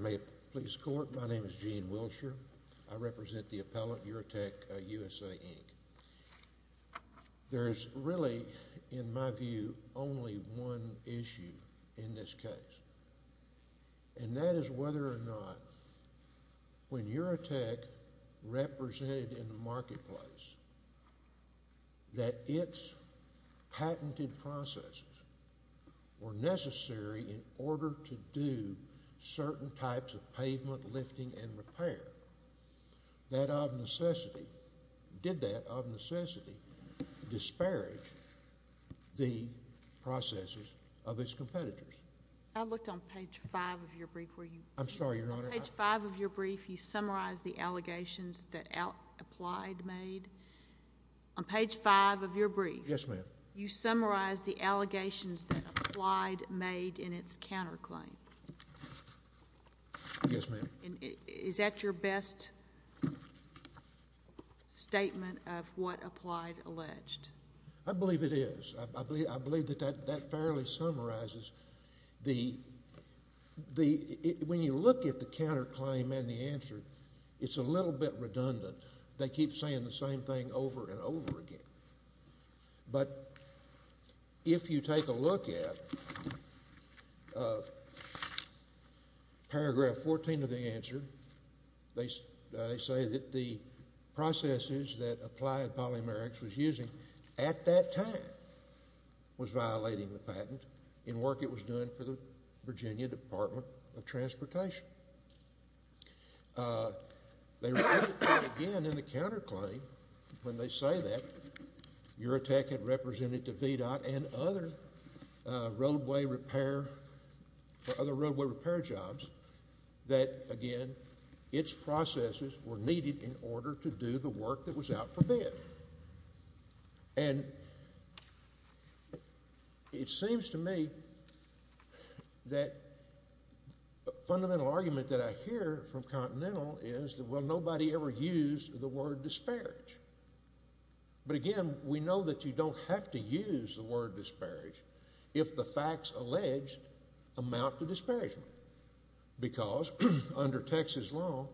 May it please the Court. My name is Gene Wilshire. I represent the appellant, Uretek USA, Inc. There is really, in my view, only one issue in this case. And that is whether or not when Uretek represented in the marketplace that its patented processes were necessary in order to do certain types of pavement lifting and repair. Did that, of necessity, disparage the processes of its competitors? I looked on page 5 of your brief. I'm sorry, Your Honor. On page 5 of your brief, you summarize the allegations that Applied made. On page 5 of your brief, you summarize the allegations that Applied made in its counterclaim. Yes, ma'am. Is that your best statement of what Applied alleged? I believe it is. I believe that that fairly summarizes the... When you look at the counterclaim and the answer, it's a little bit redundant. They keep saying the same thing over and over again. But if you take a look at paragraph 14 of the answer, they say that the processes that Applied Polymerics was using at that time was violating the patent in work it was doing for the Virginia Department of Transportation. Again, in the counterclaim, when they say that, Uretek had represented to VDOT and other roadway repair jobs that, again, its processes were needed in order to do the work that was out for bid. And it seems to me that the fundamental argument that I hear from Continental is, well, nobody ever used the word disparage. But, again, we know that you don't have to use the word disparage if the facts alleged amount to disparagement because, under Texas law,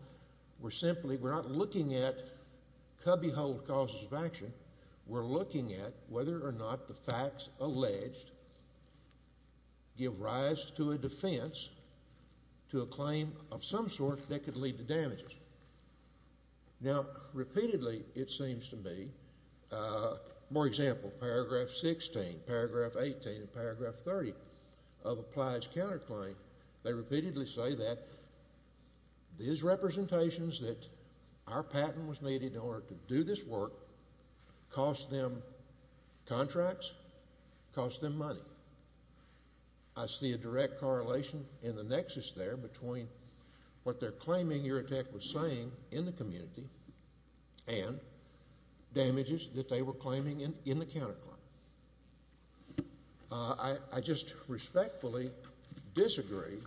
we're simply not looking at cubbyhole causes of action. We're looking at whether or not the facts alleged give rise to a defense to a claim of some sort that could lead to damages. Now, repeatedly, it seems to me, more example, paragraph 16, paragraph 18, and paragraph 30 of Applied's counterclaim, they repeatedly say that these representations that our patent was needed in order to do this work cost them contracts, cost them money. I see a direct correlation in the nexus there between what they're claiming Uretek was saying in the community and damages that they were claiming in the counterclaim. I just respectfully disagree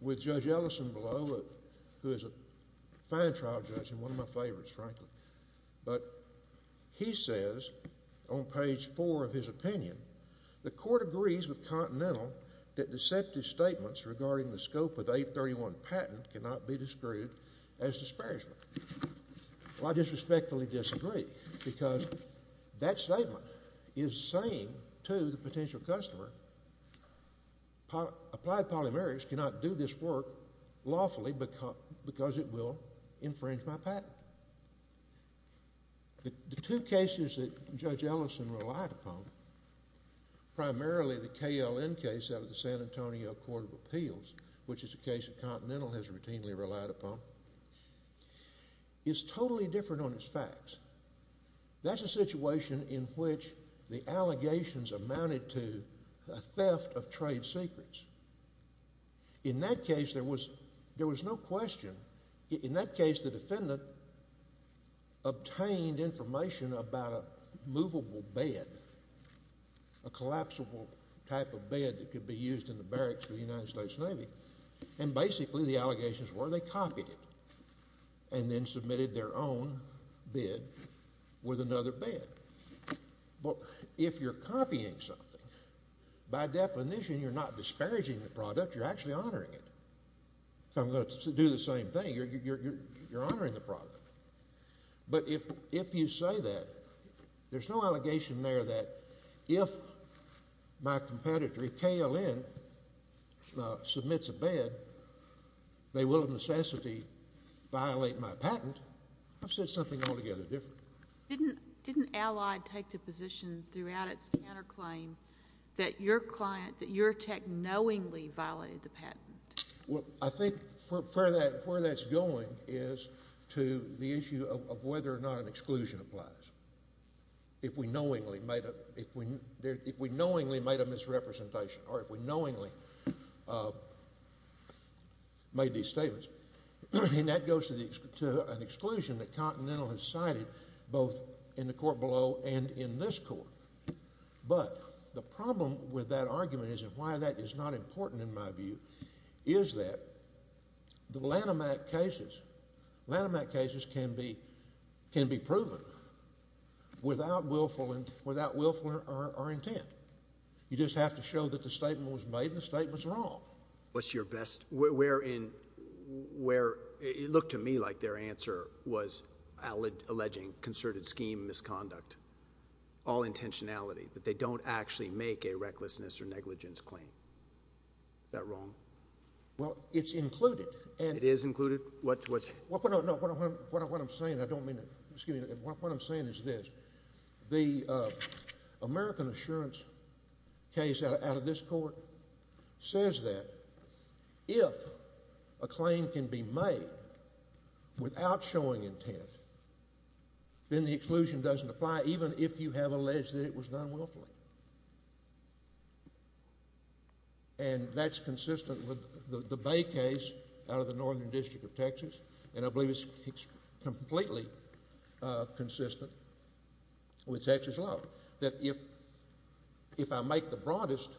with Judge Ellison below, who is a fine trial judge and one of my favorites, frankly. But he says on page 4 of his opinion, the court agrees with Continental that deceptive statements regarding the scope of the 831 patent cannot be described as disparagement. Well, I disrespectfully disagree because that statement is saying to the potential customer, Applied Polymerics cannot do this work lawfully because it will infringe my patent. The two cases that Judge Ellison relied upon, primarily the KLN case out of the San Antonio Court of Appeals, which is a case that Continental has routinely relied upon, is totally different on its facts. That's a situation in which the allegations amounted to a theft of trade secrets. In that case, there was no question. In that case, the defendant obtained information about a movable bed, a collapsible type of bed that could be used in the barracks of the United States Navy. And basically, the allegations were they copied it and then submitted their own bid with another bid. But if you're copying something, by definition, you're not disparaging the product. You're actually honoring it. So I'm going to do the same thing. You're honoring the product. But if you say that, there's no allegation there that if my competitor, KLN, submits a bid, they will, of necessity, violate my patent. I've said something altogether different. Didn't Allied take the position throughout its counterclaim that your client, that your tech, knowingly violated the patent? Well, I think where that's going is to the issue of whether or not an exclusion applies. If we knowingly made a misrepresentation or if we knowingly made these statements, and that goes to an exclusion that Continental has cited both in the court below and in this court. But the problem with that argument is, and why that is not important in my view, is that the Lanham Act cases, Lanham Act cases can be proven without willful or intent. You just have to show that the statement was made and the statement's wrong. What's your best? It looked to me like their answer was alleging concerted scheme misconduct, all intentionality, that they don't actually make a recklessness or negligence claim. Is that wrong? Well, it's included. It is included? What I'm saying is this. The American Assurance case out of this court says that if a claim can be made without showing intent, then the exclusion doesn't apply even if you have alleged that it was done willfully. And that's consistent with the Bay case out of the Northern District of Texas, and I believe it's completely consistent with Texas law, that if I make the broadest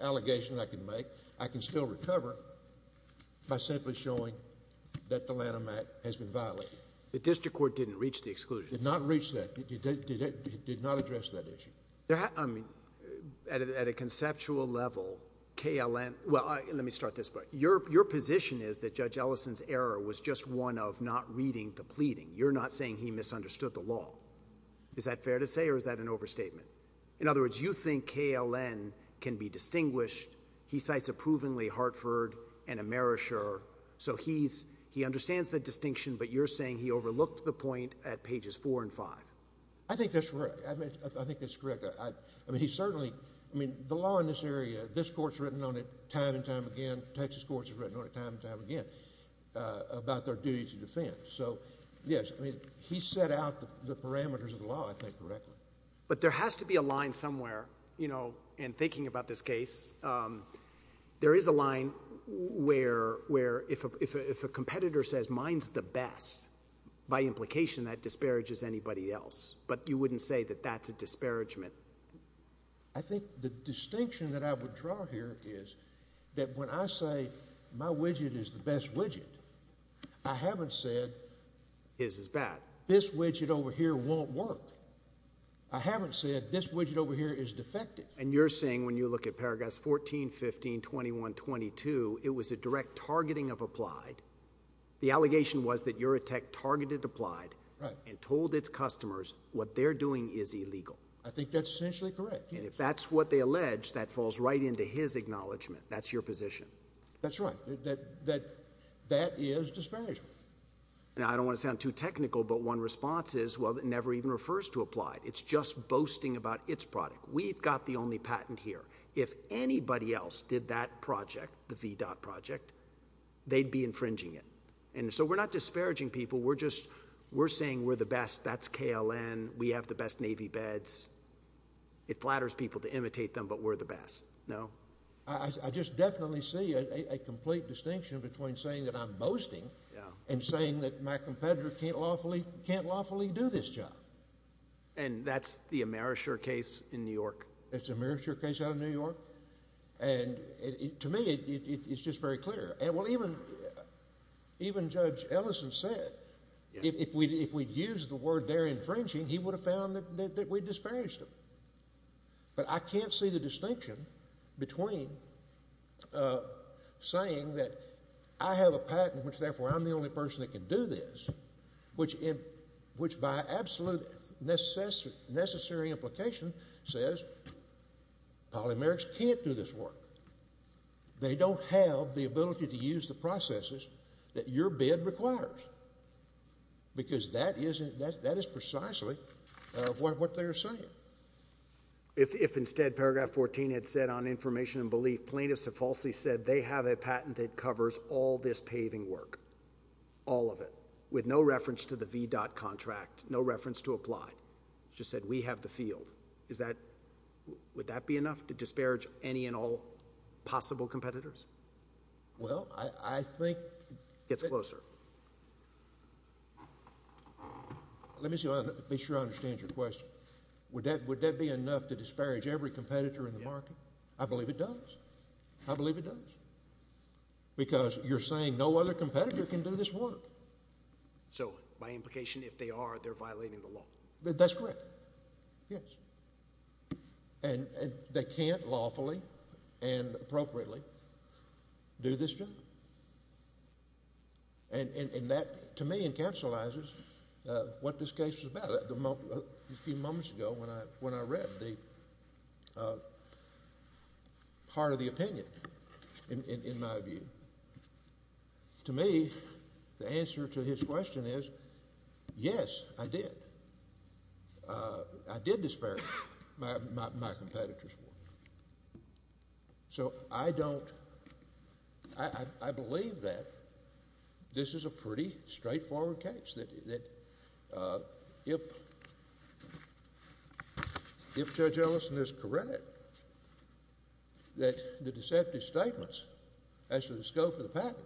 allegation I can make, I can still recover by simply showing that the Lanham Act has been violated. The district court didn't reach the exclusion. Did not reach that. It did not address that issue. I mean, at a conceptual level, KLM — well, let me start this way. Your position is that Judge Ellison's error was just one of not reading the pleading. You're not saying he misunderstood the law. Is that fair to say or is that an overstatement? In other words, you think KLM can be distinguished. He cites approvingly Hartford and Amerisher, so he understands the distinction, but you're saying he overlooked the point at pages 4 and 5. I think that's right. I think that's correct. I mean, he certainly — I mean, the law in this area, this court's written on it time and time again. Texas courts have written on it time and time again about their duty to defend. So, yes, I mean, he set out the parameters of the law, I think, correctly. But there has to be a line somewhere, you know, in thinking about this case. There is a line where if a competitor says mine's the best, by implication that disparages anybody else. But you wouldn't say that that's a disparagement. I think the distinction that I would draw here is that when I say my widget is the best widget, I haven't said this widget over here won't work. I haven't said this widget over here is defective. And you're saying when you look at paragraphs 14, 15, 21, 22, it was a direct targeting of applied. The allegation was that Eurotech targeted applied and told its customers what they're doing is illegal. I think that's essentially correct, yes. And if that's what they allege, that falls right into his acknowledgment. That's your position. That's right. That is disparagement. Now, I don't want to sound too technical, but one response is, well, it never even refers to applied. It's just boasting about its product. We've got the only patent here. If anybody else did that project, the VDOT project, they'd be infringing it. And so we're not disparaging people. We're just saying we're the best. That's KLN. We have the best Navy beds. It flatters people to imitate them, but we're the best, no? I just definitely see a complete distinction between saying that I'm boasting and saying that my competitor can't lawfully do this job. And that's the Amerisher case in New York. That's the Amerisher case out of New York? And to me, it's just very clear. Well, even Judge Ellison said if we'd used the word they're infringing, he would have found that we'd disparaged them. But I can't see the distinction between saying that I have a patent, which therefore I'm the only person that can do this, which by absolute necessary implication says polymerics can't do this work. They don't have the ability to use the processes that your bid requires. Because that is precisely what they're saying. If instead paragraph 14 had said on information and belief, plaintiffs have falsely said they have a patent that covers all this paving work, all of it, with no reference to the VDOT contract, no reference to apply, just said we have the field, would that be enough to disparage any and all possible competitors? Well, I think— It gets closer. Let me be sure I understand your question. Would that be enough to disparage every competitor in the market? I believe it does. I believe it does. Because you're saying no other competitor can do this work. So by implication, if they are, they're violating the law. That's correct. Yes. And they can't lawfully and appropriately do this job. And that, to me, encapsulates what this case is about. A few moments ago, when I read the part of the opinion, in my view, to me, the answer to his question is, yes, I did. I did disparage my competitors' work. So I don't—I believe that this is a pretty straightforward case, that if Judge Ellison is correct, that the deceptive statements as to the scope of the patent,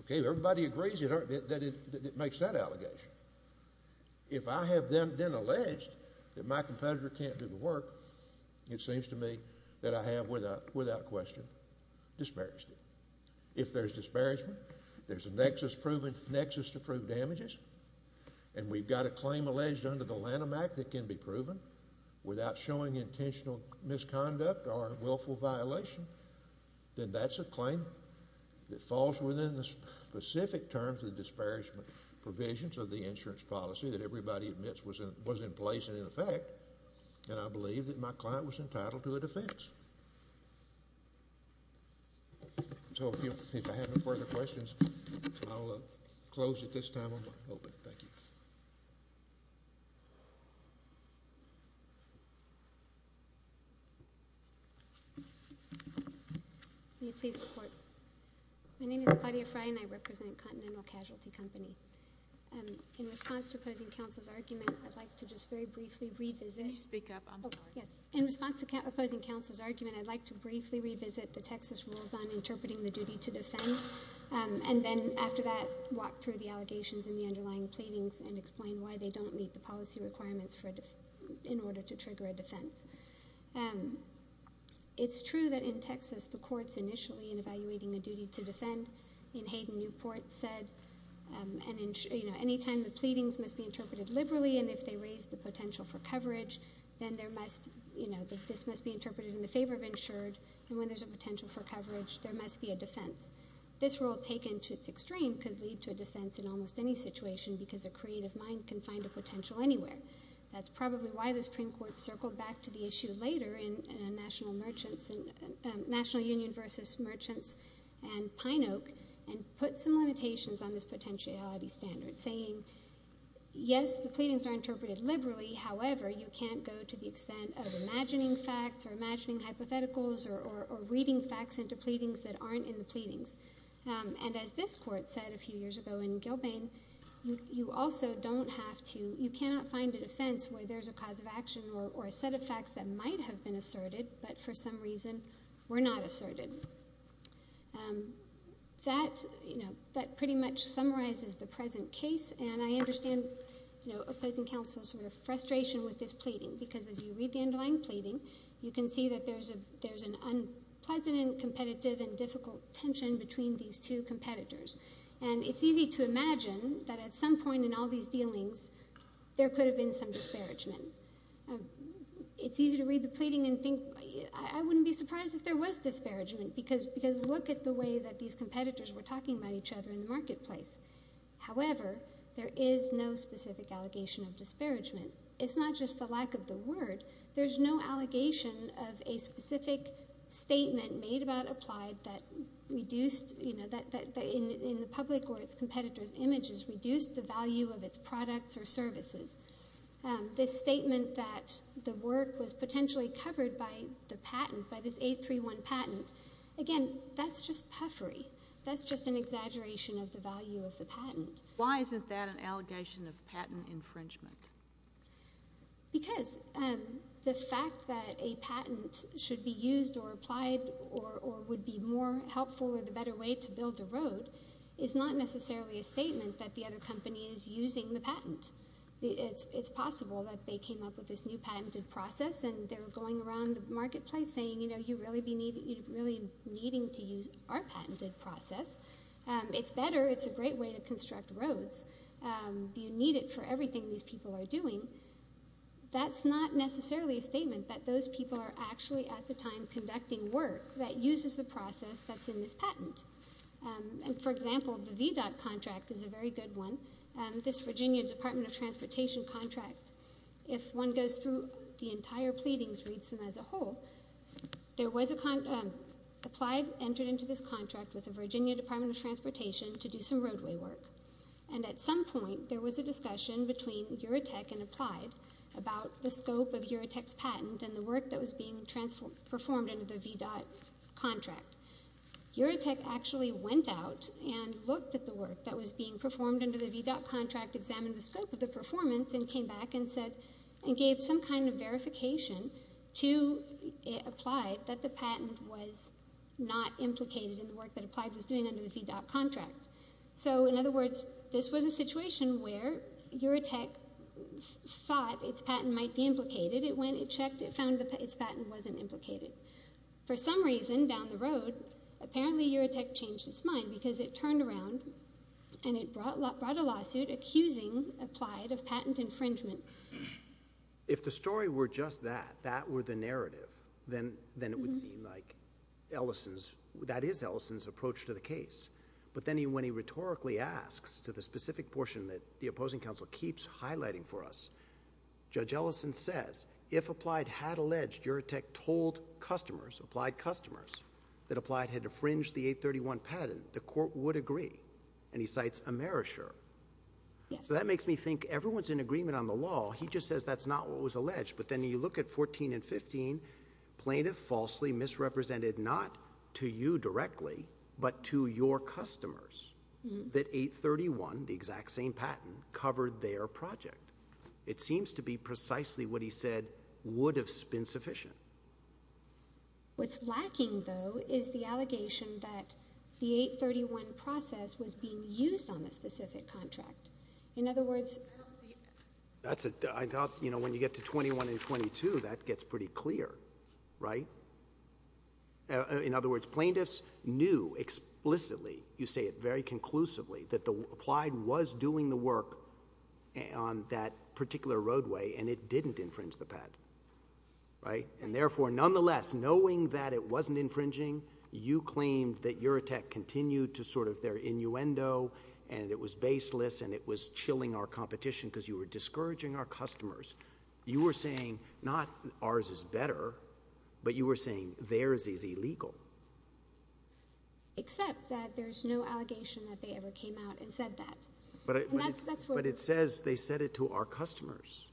okay, everybody agrees that it makes that allegation. If I have then alleged that my competitor can't do the work, it seems to me that I have, without question, disparaged it. If there's disparagement, there's a nexus to prove damages, and we've got a claim alleged under the Lanham Act that can be proven without showing intentional misconduct or willful violation, then that's a claim that falls within the specific terms of the disparagement provisions of the insurance policy that everybody admits was in place and in effect, and I believe that my client was entitled to a defense. So if I have no further questions, I'll close at this time on my opening. Thank you. May I please report? My name is Claudia Frey, and I represent Continental Casualty Company. In response to opposing counsel's argument, I'd like to just very briefly revisit— Can you speak up? I'm sorry. In response to opposing counsel's argument, I'd like to briefly revisit the Texas rules on interpreting the duty to defend, and then after that, walk through the allegations in the underlying pleadings and explain why they don't meet the policy requirements in order to trigger a defense. It's true that in Texas, the courts initially, in evaluating the duty to defend, in Hayden Newport said, anytime the pleadings must be interpreted liberally, and if they raise the potential for coverage, then this must be interpreted in the favor of insured, and when there's a potential for coverage, there must be a defense. This rule, taken to its extreme, could lead to a defense in almost any situation because a creative mind can find a potential anywhere. That's probably why the Supreme Court circled back to the issue later in National Union v. Merchants and Pine Oak and put some limitations on this potentiality standard, saying, yes, the pleadings are interpreted liberally. However, you can't go to the extent of imagining facts or imagining hypotheticals or reading facts into pleadings that aren't in the pleadings, and as this court said a few years ago in Gilbane, you also don't have to, you cannot find a defense where there's a cause of action or a set of facts that might have been asserted, but for some reason were not asserted. That, you know, that pretty much summarizes the present case, and I understand, you know, opposing counsel's frustration with this pleading because as you read the underlying pleading, you can see that there's an unpleasant and competitive and difficult tension between these two competitors, and it's easy to imagine that at some point in all these dealings, there could have been some disparagement. It's easy to read the pleading and think, I wouldn't be surprised if there was disparagement because look at the way that these competitors were talking about each other in the marketplace. However, there is no specific allegation of disparagement. It's not just the lack of the word. There's no allegation of a specific statement made about Applied that reduced, you know, that in the public or its competitors' images reduced the value of its products or services. This statement that the work was potentially covered by the patent, by this 831 patent, again, that's just puffery. That's just an exaggeration of the value of the patent. Why isn't that an allegation of patent infringement? Because the fact that a patent should be used or applied or would be more helpful or the better way to build a road is not necessarily a statement that the other company is using the patent. It's possible that they came up with this new patented process, and they were going around the marketplace saying, you know, you'd really be needing to use our patented process. It's better. It's a great way to construct roads. Do you need it for everything these people are doing? That's not necessarily a statement that those people are actually at the time conducting work that uses the process that's in this patent. And, for example, the VDOT contract is a very good one. This Virginia Department of Transportation contract, if one goes through the entire pleadings, reads them as a whole, there was a, Applied entered into this contract with the Virginia Department of Transportation to do some roadway work. And at some point there was a discussion between Eurotech and Applied about the scope of Eurotech's patent and the work that was being performed under the VDOT contract. Eurotech actually went out and looked at the work that was being performed under the VDOT contract, examined the scope of the performance, and came back and gave some kind of verification to Applied that the patent was not implicated in the work that Applied was doing under the VDOT contract. So, in other words, this was a situation where Eurotech thought its patent might be implicated. It went and checked. It found that its patent wasn't implicated. For some reason, down the road, apparently Eurotech changed its mind because it turned around and it brought a lawsuit accusing Applied of patent infringement. If the story were just that, that were the narrative, then it would seem like that is Ellison's approach to the case. But then when he rhetorically asks to the specific portion that the opposing counsel keeps highlighting for us, Judge Ellison says, if Applied had alleged Eurotech told customers, Applied customers, that Applied had infringed the 831 patent, the court would agree. And he cites Amerisher. So that makes me think everyone's in agreement on the law. He just says that's not what was alleged. But then you look at 14 and 15. Plaintiff falsely misrepresented, not to you directly, but to your customers, that 831, the exact same patent, covered their project. It seems to be precisely what he said would have been sufficient. What's lacking, though, is the allegation that the 831 process was being used on the specific contract. I thought when you get to 21 and 22, that gets pretty clear, right? In other words, plaintiffs knew explicitly, you say it very conclusively, that Applied was doing the work on that particular roadway, and it didn't infringe the patent. And therefore, nonetheless, knowing that it wasn't infringing, you claimed that Eurotech continued to sort of their innuendo, and it was baseless, and it was chilling our competition because you were discouraging our customers. You were saying not ours is better, but you were saying theirs is illegal. Except that there's no allegation that they ever came out and said that. But it says they said it to our customers,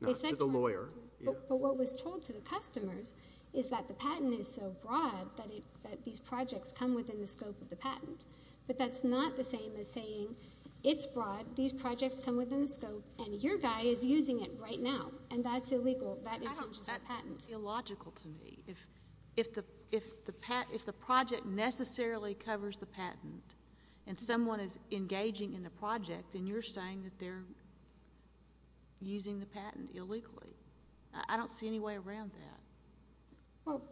not to the lawyer. But what was told to the customers is that the patent is so broad that these projects come within the scope of the patent. But that's not the same as saying it's broad, these projects come within the scope, and your guy is using it right now, and that's illegal, that infringes the patent. That doesn't feel logical to me. If the project necessarily covers the patent, and someone is engaging in the project, and you're saying that they're using the patent illegally, I don't see any way around that. Well,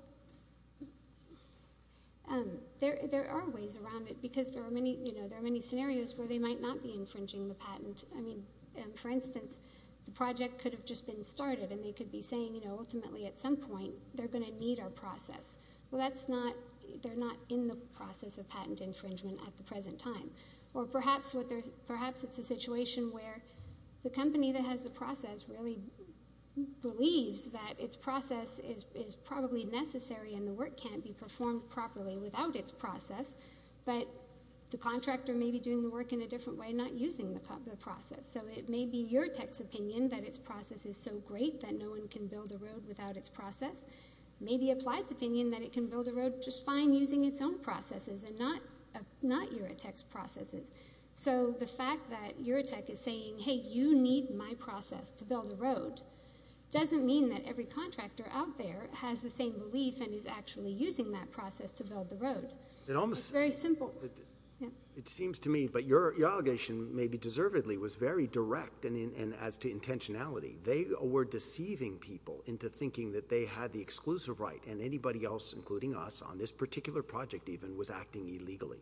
there are ways around it because there are many scenarios where they might not be infringing the patent. I mean, for instance, the project could have just been started, and they could be saying ultimately at some point they're going to need our process. Well, they're not in the process of patent infringement at the present time. Or perhaps it's a situation where the company that has the process really believes that its process is probably necessary and the work can't be performed properly without its process, but the contractor may be doing the work in a different way, not using the process. So it may be your tech's opinion that its process is so great that no one can build a road without its process. It may be Applied's opinion that it can build a road just fine using its own processes and not Eurotech's processes. So the fact that Eurotech is saying, hey, you need my process to build a road, doesn't mean that every contractor out there has the same belief and is actually using that process to build the road. It's very simple. It seems to me, but your allegation, maybe deservedly, was very direct as to intentionality. They were deceiving people into thinking that they had the exclusive right and anybody else, including us, on this particular project even, was acting illegally.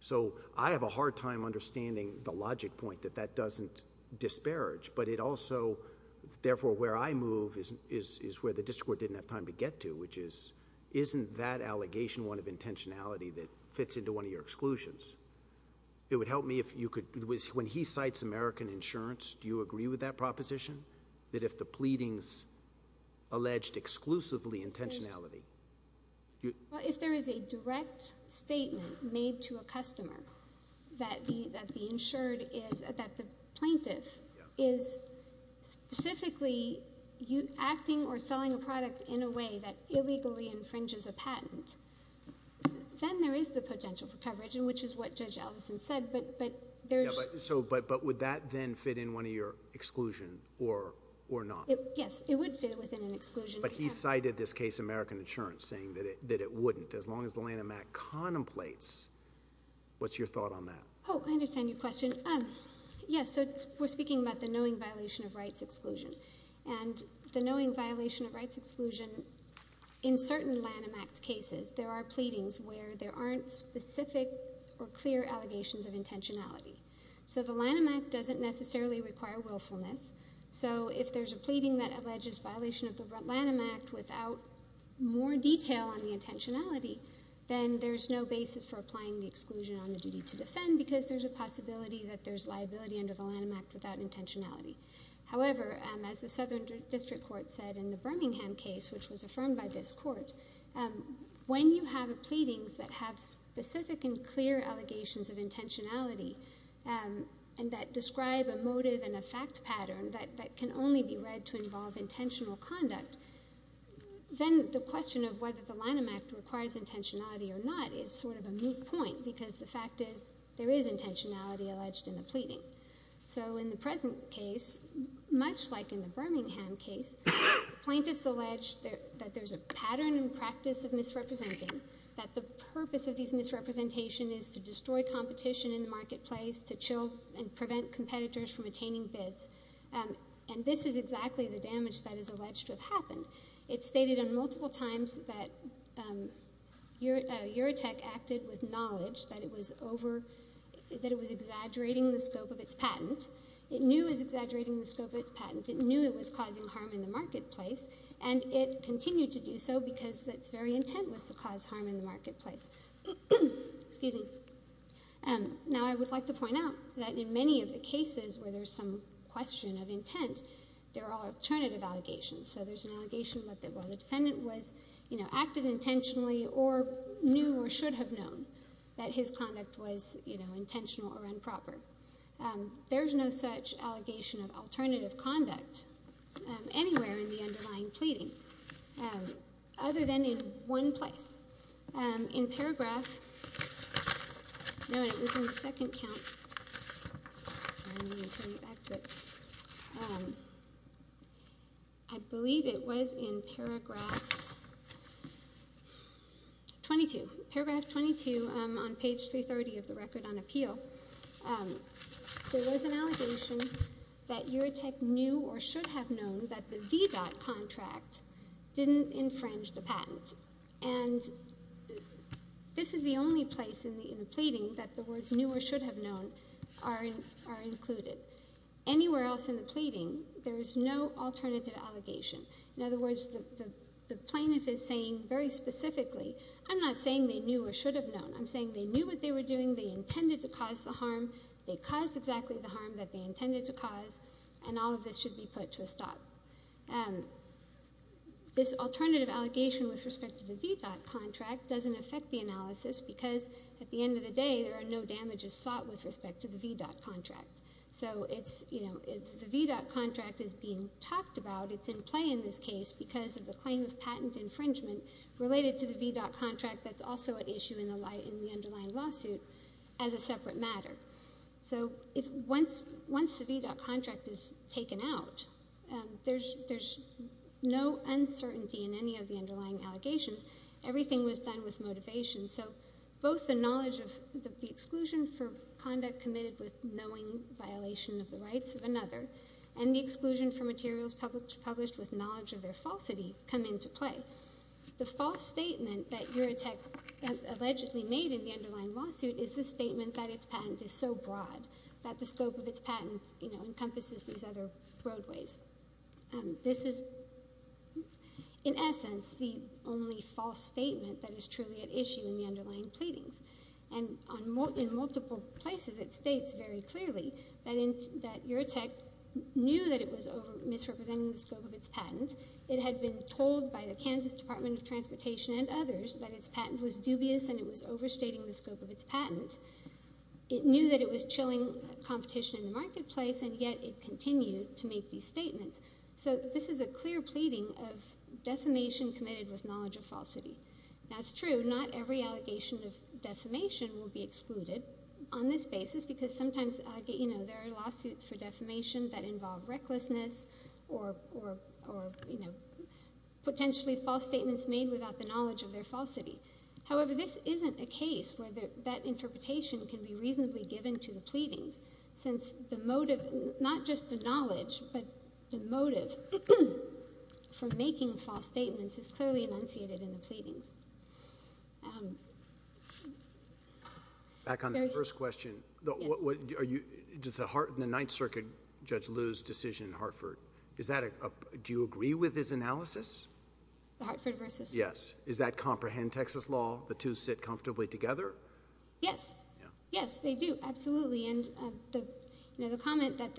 So I have a hard time understanding the logic point that that doesn't disparage, but it also, therefore, where I move is where the district court didn't have time to get to, which is, isn't that allegation one of intentionality that fits into one of your exclusions? It would help me if you could, when he cites American insurance, do you agree with that proposition, that if the pleadings alleged exclusively intentionality? Well, if there is a direct statement made to a customer that the insured is, that the plaintiff is specifically acting or selling a product in a way that illegally infringes a patent, then there is the potential for coverage, which is what Judge Ellison said. But would that then fit in one of your exclusions or not? Yes, it would fit within an exclusion. But he cited this case, American Insurance, saying that it wouldn't. As long as the Lanham Act contemplates, what's your thought on that? Oh, I understand your question. Yes, so we're speaking about the knowing violation of rights exclusion. And the knowing violation of rights exclusion, in certain Lanham Act cases, there are pleadings where there aren't specific or clear allegations of intentionality. So the Lanham Act doesn't necessarily require willfulness. So if there's a pleading that alleges violation of the Lanham Act without more detail on the intentionality, then there's no basis for applying the exclusion on the duty to defend because there's a possibility that there's liability under the Lanham Act without intentionality. However, as the Southern District Court said in the Birmingham case, which was affirmed by this court, when you have pleadings that have specific and clear allegations of intentionality and that describe a motive and a fact pattern that can only be read to involve intentional conduct, then the question of whether the Lanham Act requires intentionality or not is sort of a moot point because the fact is there is intentionality alleged in the pleading. So in the present case, much like in the Birmingham case, plaintiffs allege that there's a pattern and practice of misrepresenting, that the purpose of these misrepresentations is to destroy competition in the marketplace, to chill and prevent competitors from attaining bids. And this is exactly the damage that is alleged to have happened. It's stated on multiple times that Eurotech acted with knowledge that it was exaggerating the scope of its patent. It knew it was exaggerating the scope of its patent. It knew it was causing harm in the marketplace, and it continued to do so because its very intent was to cause harm in the marketplace. Now, I would like to point out that in many of the cases where there's some question of intent, there are alternative allegations. So there's an allegation that the defendant acted intentionally or knew or should have known that his conduct was, you know, intentional or improper. There's no such allegation of alternative conduct anywhere in the underlying pleading other than in one place. In paragraph 22 on page 330 of the Record on Appeal, there was an allegation that Eurotech knew or should have known that the VDOT contract didn't infringe the patent. And this is the only place in the pleading that the words knew or should have known are included. Anywhere else in the pleading, there is no alternative allegation. In other words, the plaintiff is saying very specifically, I'm not saying they knew or should have known. I'm saying they knew what they were doing, they intended to cause the harm, they caused exactly the harm that they intended to cause, and all of this should be put to a stop. This alternative allegation with respect to the VDOT contract doesn't affect the analysis because at the end of the day, there are no damages sought with respect to the VDOT contract. So it's, you know, if the VDOT contract is being talked about, it's in play in this case because of the claim of patent infringement related to the VDOT contract that's also at issue in the underlying lawsuit as a separate matter. So once the VDOT contract is taken out, there's no uncertainty in any of the underlying allegations. Everything was done with motivation. So both the knowledge of the exclusion for conduct committed with knowing violation of the rights of another and the exclusion for materials published with knowledge of their falsity come into play. The false statement that Eurotech allegedly made in the underlying lawsuit is the statement that its patent is so broad that the scope of its patent, you know, encompasses these other roadways. This is, in essence, the only false statement that is truly at issue in the underlying pleadings. And in multiple places it states very clearly that Eurotech knew that it was misrepresenting the scope of its patent. It had been told by the Kansas Department of Transportation and others that its patent was dubious and it was overstating the scope of its patent. It knew that it was chilling competition in the marketplace, and yet it continued to make these statements. So this is a clear pleading of defamation committed with knowledge of falsity. Now, it's true, not every allegation of defamation will be excluded on this basis because sometimes, you know, there are lawsuits for defamation that involve recklessness or, you know, potentially false statements made without the knowledge of their falsity. However, this isn't a case where that interpretation can be reasonably given to the pleadings since the motive, not just the knowledge, but the motive for making false statements is clearly enunciated in the pleadings. Back on the first question. Does the Ninth Circuit Judge Liu's decision in Hartford, do you agree with his analysis? The Hartford versus? Yes. Is that comprehend Texas law, the two sit comfortably together? Yes. Yeah. Yes, they do. Absolutely. And, you know, the comment that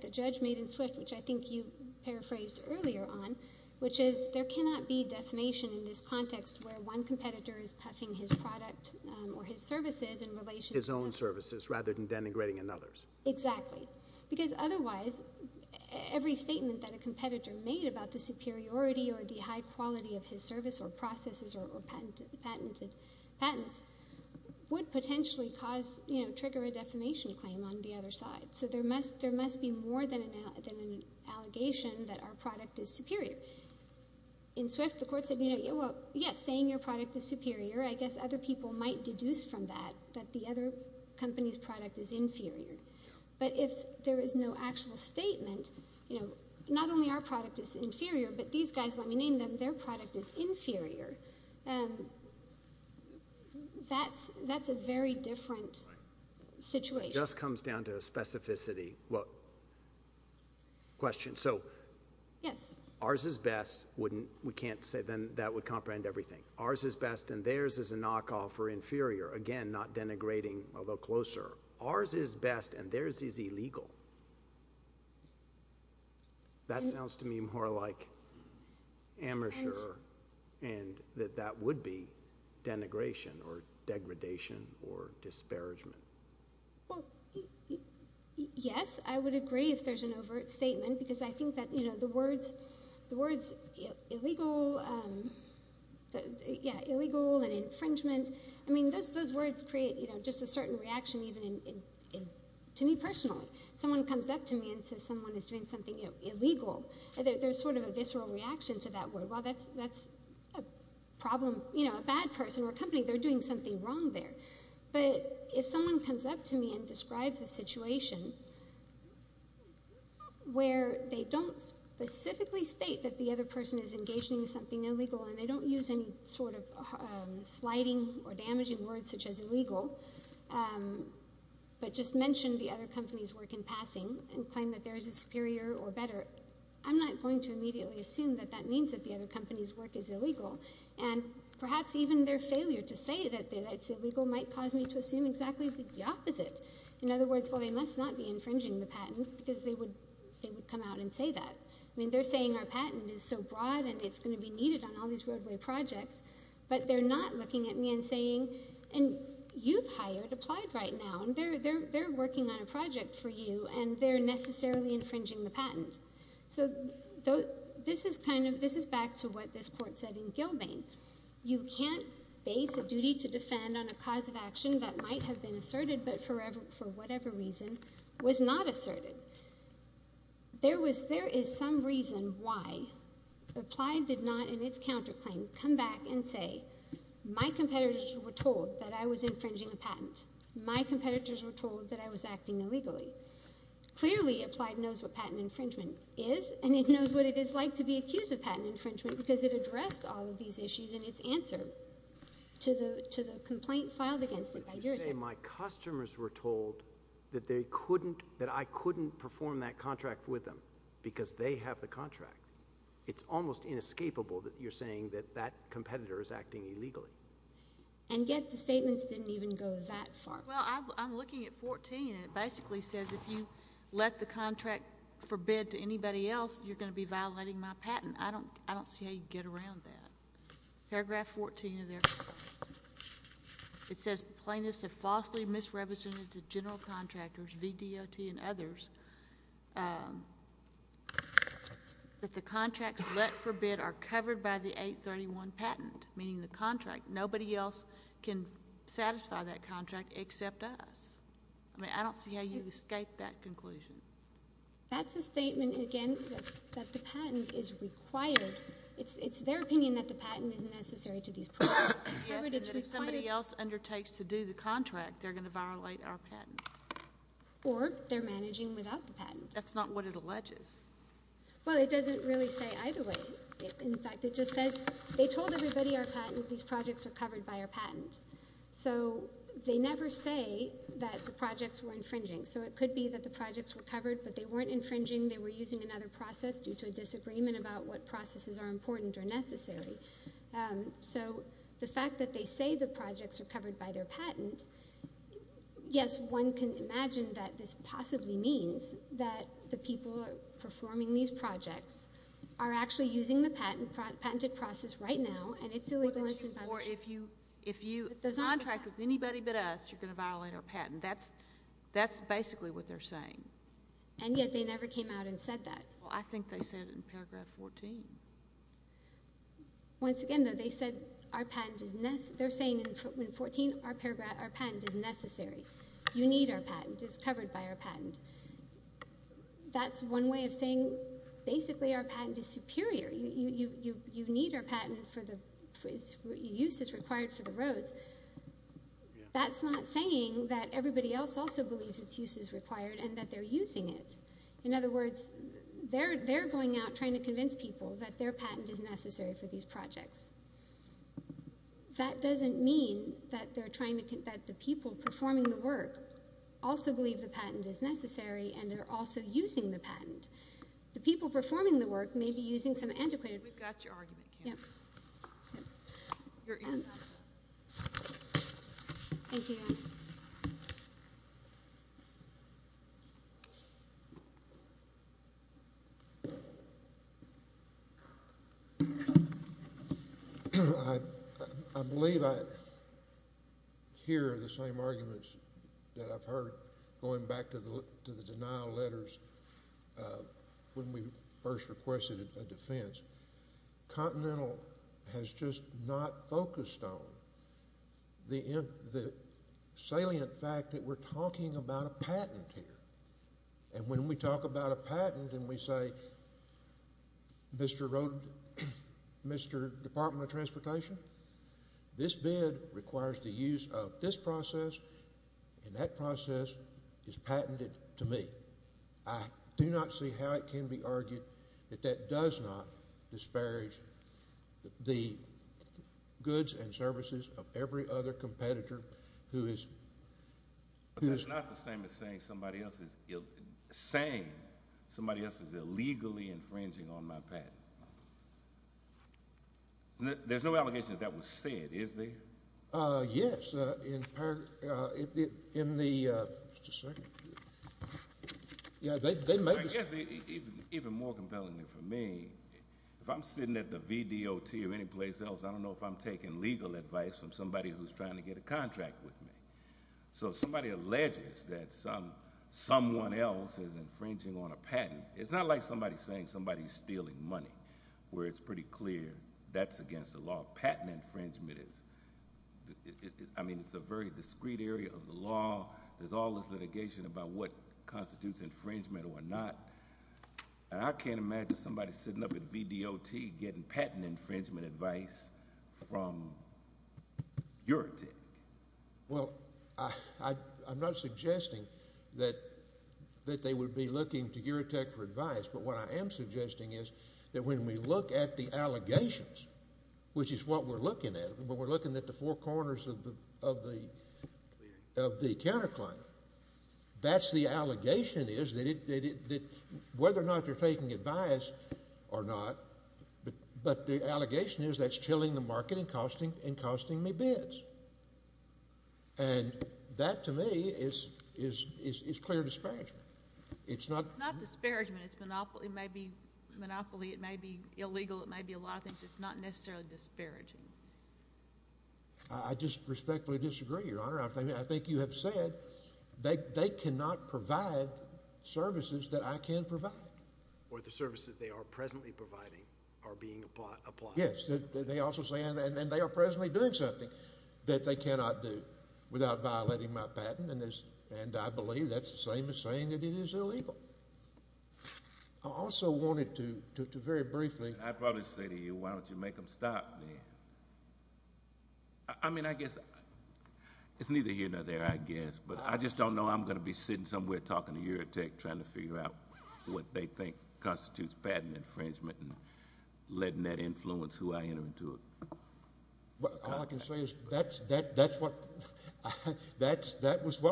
the judge made in Swift, which I think you paraphrased earlier on, which is there cannot be defamation in this context where one competitor is puffing his product or his services in relation to— His own services rather than denigrating another's. Exactly. Because otherwise, every statement that a competitor made about the superiority or the high quality of his service or processes or patented patents would potentially cause, you know, trigger a defamation claim on the other side. So there must be more than an allegation that our product is superior. In Swift, the court said, you know, well, yes, saying your product is superior, I guess other people might deduce from that that the other company's product is inferior. But if there is no actual statement, you know, not only our product is inferior, but these guys, let me name them, their product is inferior, that's a very different situation. It just comes down to specificity. Well, question. So— Yes. Ours is best. We can't say then that would comprehend everything. Ours is best and theirs is a knockoff or inferior. Again, not denigrating, although closer. Ours is best and theirs is illegal. That sounds to me more like amateur and that that would be denigration or degradation or disparagement. Well, yes. I would agree if there's an overt statement because I think that, you know, the words illegal and infringement, I mean, those words create, you know, just a certain reaction even to me personally. If someone comes up to me and says someone is doing something illegal, there's sort of a visceral reaction to that word. Well, that's a problem, you know, a bad person or company, they're doing something wrong there. But if someone comes up to me and describes a situation where they don't specifically state that the other person is engaging in something illegal and they don't use any sort of sliding or damaging words such as illegal, but just mention the other company's work in passing and claim that theirs is superior or better, I'm not going to immediately assume that that means that the other company's work is illegal. And perhaps even their failure to say that it's illegal might cause me to assume exactly the opposite. In other words, well, they must not be infringing the patent because they would come out and say that. I mean, they're saying our patent is so broad and it's going to be needed on all these roadway projects, but they're not looking at me and saying, and you've hired applied right now, and they're working on a project for you and they're necessarily infringing the patent. So this is kind of, this is back to what this court said in Gilbane. You can't base a duty to defend on a cause of action that might have been asserted but for whatever reason was not asserted. There is some reason why Applied did not, in its counterclaim, come back and say, my competitors were told that I was infringing a patent. My competitors were told that I was acting illegally. Clearly, Applied knows what patent infringement is, and it knows what it is like to be accused of patent infringement because it addressed all of these issues in its answer to the complaint filed against it by your agency. I can't say my customers were told that they couldn't, that I couldn't perform that contract with them because they have the contract. It's almost inescapable that you're saying that that competitor is acting illegally. And yet the statements didn't even go that far. Well, I'm looking at 14, and it basically says if you let the contract forbid to anybody else, you're going to be violating my patent. I don't see how you'd get around that. Paragraph 14 of there. It says plaintiffs have falsely misrepresented to general contractors, VDOT and others, that the contracts, let forbid, are covered by the 831 patent, meaning the contract. Nobody else can satisfy that contract except us. I mean, I don't see how you'd escape that conclusion. That's a statement, again, that the patent is required. It's their opinion that the patent is necessary to these projects. Yes, but if somebody else undertakes to do the contract, they're going to violate our patent. Or they're managing without the patent. That's not what it alleges. Well, it doesn't really say either way. In fact, it just says they told everybody our patent, these projects are covered by our patent. So they never say that the projects were infringing. So it could be that the projects were covered, but they weren't infringing. They were using another process due to a disagreement about what processes are important or necessary. So the fact that they say the projects are covered by their patent, yes, one can imagine that this possibly means that the people performing these projects are actually using the patented process right now, and it's illegal and it's in violation. Or if you contract with anybody but us, you're going to violate our patent. That's basically what they're saying. And yet they never came out and said that. Well, I think they said it in Paragraph 14. Once again, though, they said our patent is necessary. They're saying in 14 our patent is necessary. You need our patent. It's covered by our patent. That's one way of saying basically our patent is superior. You need our patent for the uses required for the roads. That's not saying that everybody else also believes its use is required and that they're using it. In other words, they're going out trying to convince people that their patent is necessary for these projects. That doesn't mean that the people performing the work also believe the patent is necessary and are also using the patent. The people performing the work may be using some antiquated work. We've got your argument, Kim. Your end. Thank you. I believe I hear the same arguments that I've heard going back to the denial letters when we first requested a defense. Continental has just not focused on the salient fact that we're talking about a patent here. When we talk about a patent and we say, Mr. Department of Transportation, this bid requires the use of this process, and that process is patented to me. I do not see how it can be argued that that does not disparage the goods and services of every other competitor who is... That's not the same as saying somebody else is illegally infringing on my patent. There's no allegation that that was said, is there? Yes. Even more compelling for me, if I'm sitting at the VDOT or anyplace else, I don't know if I'm taking legal advice from somebody who's trying to get a contract with me. If somebody alleges that someone else is infringing on a patent, it's not like somebody's saying somebody's stealing money, where it's pretty clear that's against the law. Patent infringement is a very discreet area of the law. There's all this litigation about what constitutes infringement or not, and I can't imagine somebody sitting up at VDOT getting patent infringement advice from Eurotech. Well, I'm not suggesting that they would be looking to Eurotech for advice, but what I am suggesting is that when we look at the allegations, which is what we're looking at, when we're looking at the four corners of the counterclaim, that's the allegation is that whether or not they're taking advice or not, but the allegation is that's chilling the market and costing me bids. And that, to me, is clear disparagement. It's not... It's not disparagement. It's monopoly. It may be monopoly. It may be illegal. It may be a lot of things. It's not necessarily disparaging. I just respectfully disagree, Your Honor. I think you have said they cannot provide services that I can provide. Or the services they are presently providing are being applied. Yes. They also say, and they are presently doing something that they cannot do without violating my patent, and I believe that's the same as saying that it is illegal. I also wanted to very briefly... I'd probably say to you, why don't you make them stop then? I mean, I guess it's neither here nor there, I guess, but I just don't know I'm going to be sitting somewhere talking to Eurotech trying to figure out what they think constitutes patent infringement and letting that influence who I enter into it. All I can say is that's what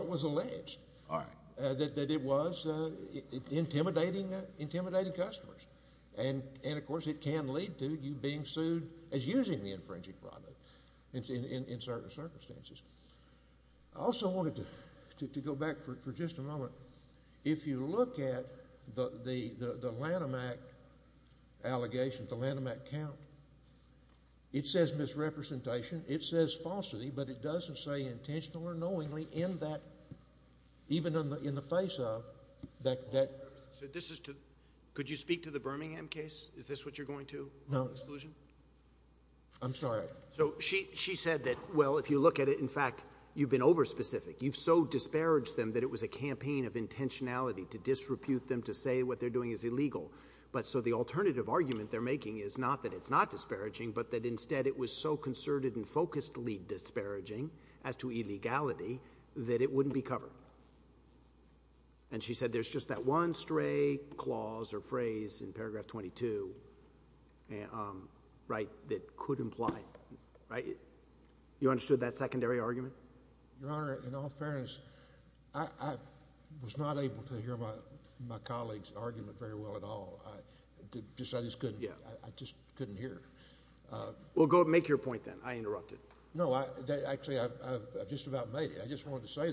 was alleged. All right. That it was intimidating customers. And, of course, it can lead to you being sued as using the infringing product in certain circumstances. I also wanted to go back for just a moment. If you look at the Lanham Act allegations, the Lanham Act count, it says misrepresentation, it says falsity, but it doesn't say intentionally or knowingly in that, even in the face of... Could you speak to the Birmingham case? Is this what you're going to? No. Exclusion? I'm sorry. So she said that, well, if you look at it, in fact, you've been over-specific. You've so disparaged them that it was a campaign of intentionality to disrepute them to say what they're doing is illegal. But so the alternative argument they're making is not that it's not disparaging, but that instead it was so concerted and focusedly disparaging as to illegality that it wouldn't be covered. And she said there's just that one stray clause or phrase in paragraph 22 that could imply... You understood that secondary argument? Your Honor, in all fairness, I was not able to hear my colleague's argument very well at all. I just couldn't hear it. Well, go ahead and make your point then. I interrupted. No. Actually, I've just about made it. I just wanted to say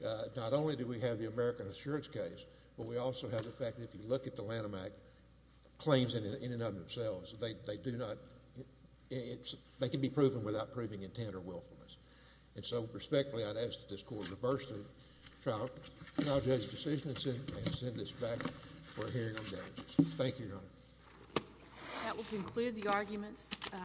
that not only do we have the American Assurance case, but we also have the fact that if you look at the Lanham Act claims in and of themselves, they do not... they can be proven without proving intent or willfulness. And so, respectfully, I'd ask that this Court reverse the trial judge's decision and send this back for a hearing on damages. Thank you, Your Honor. That will conclude the arguments.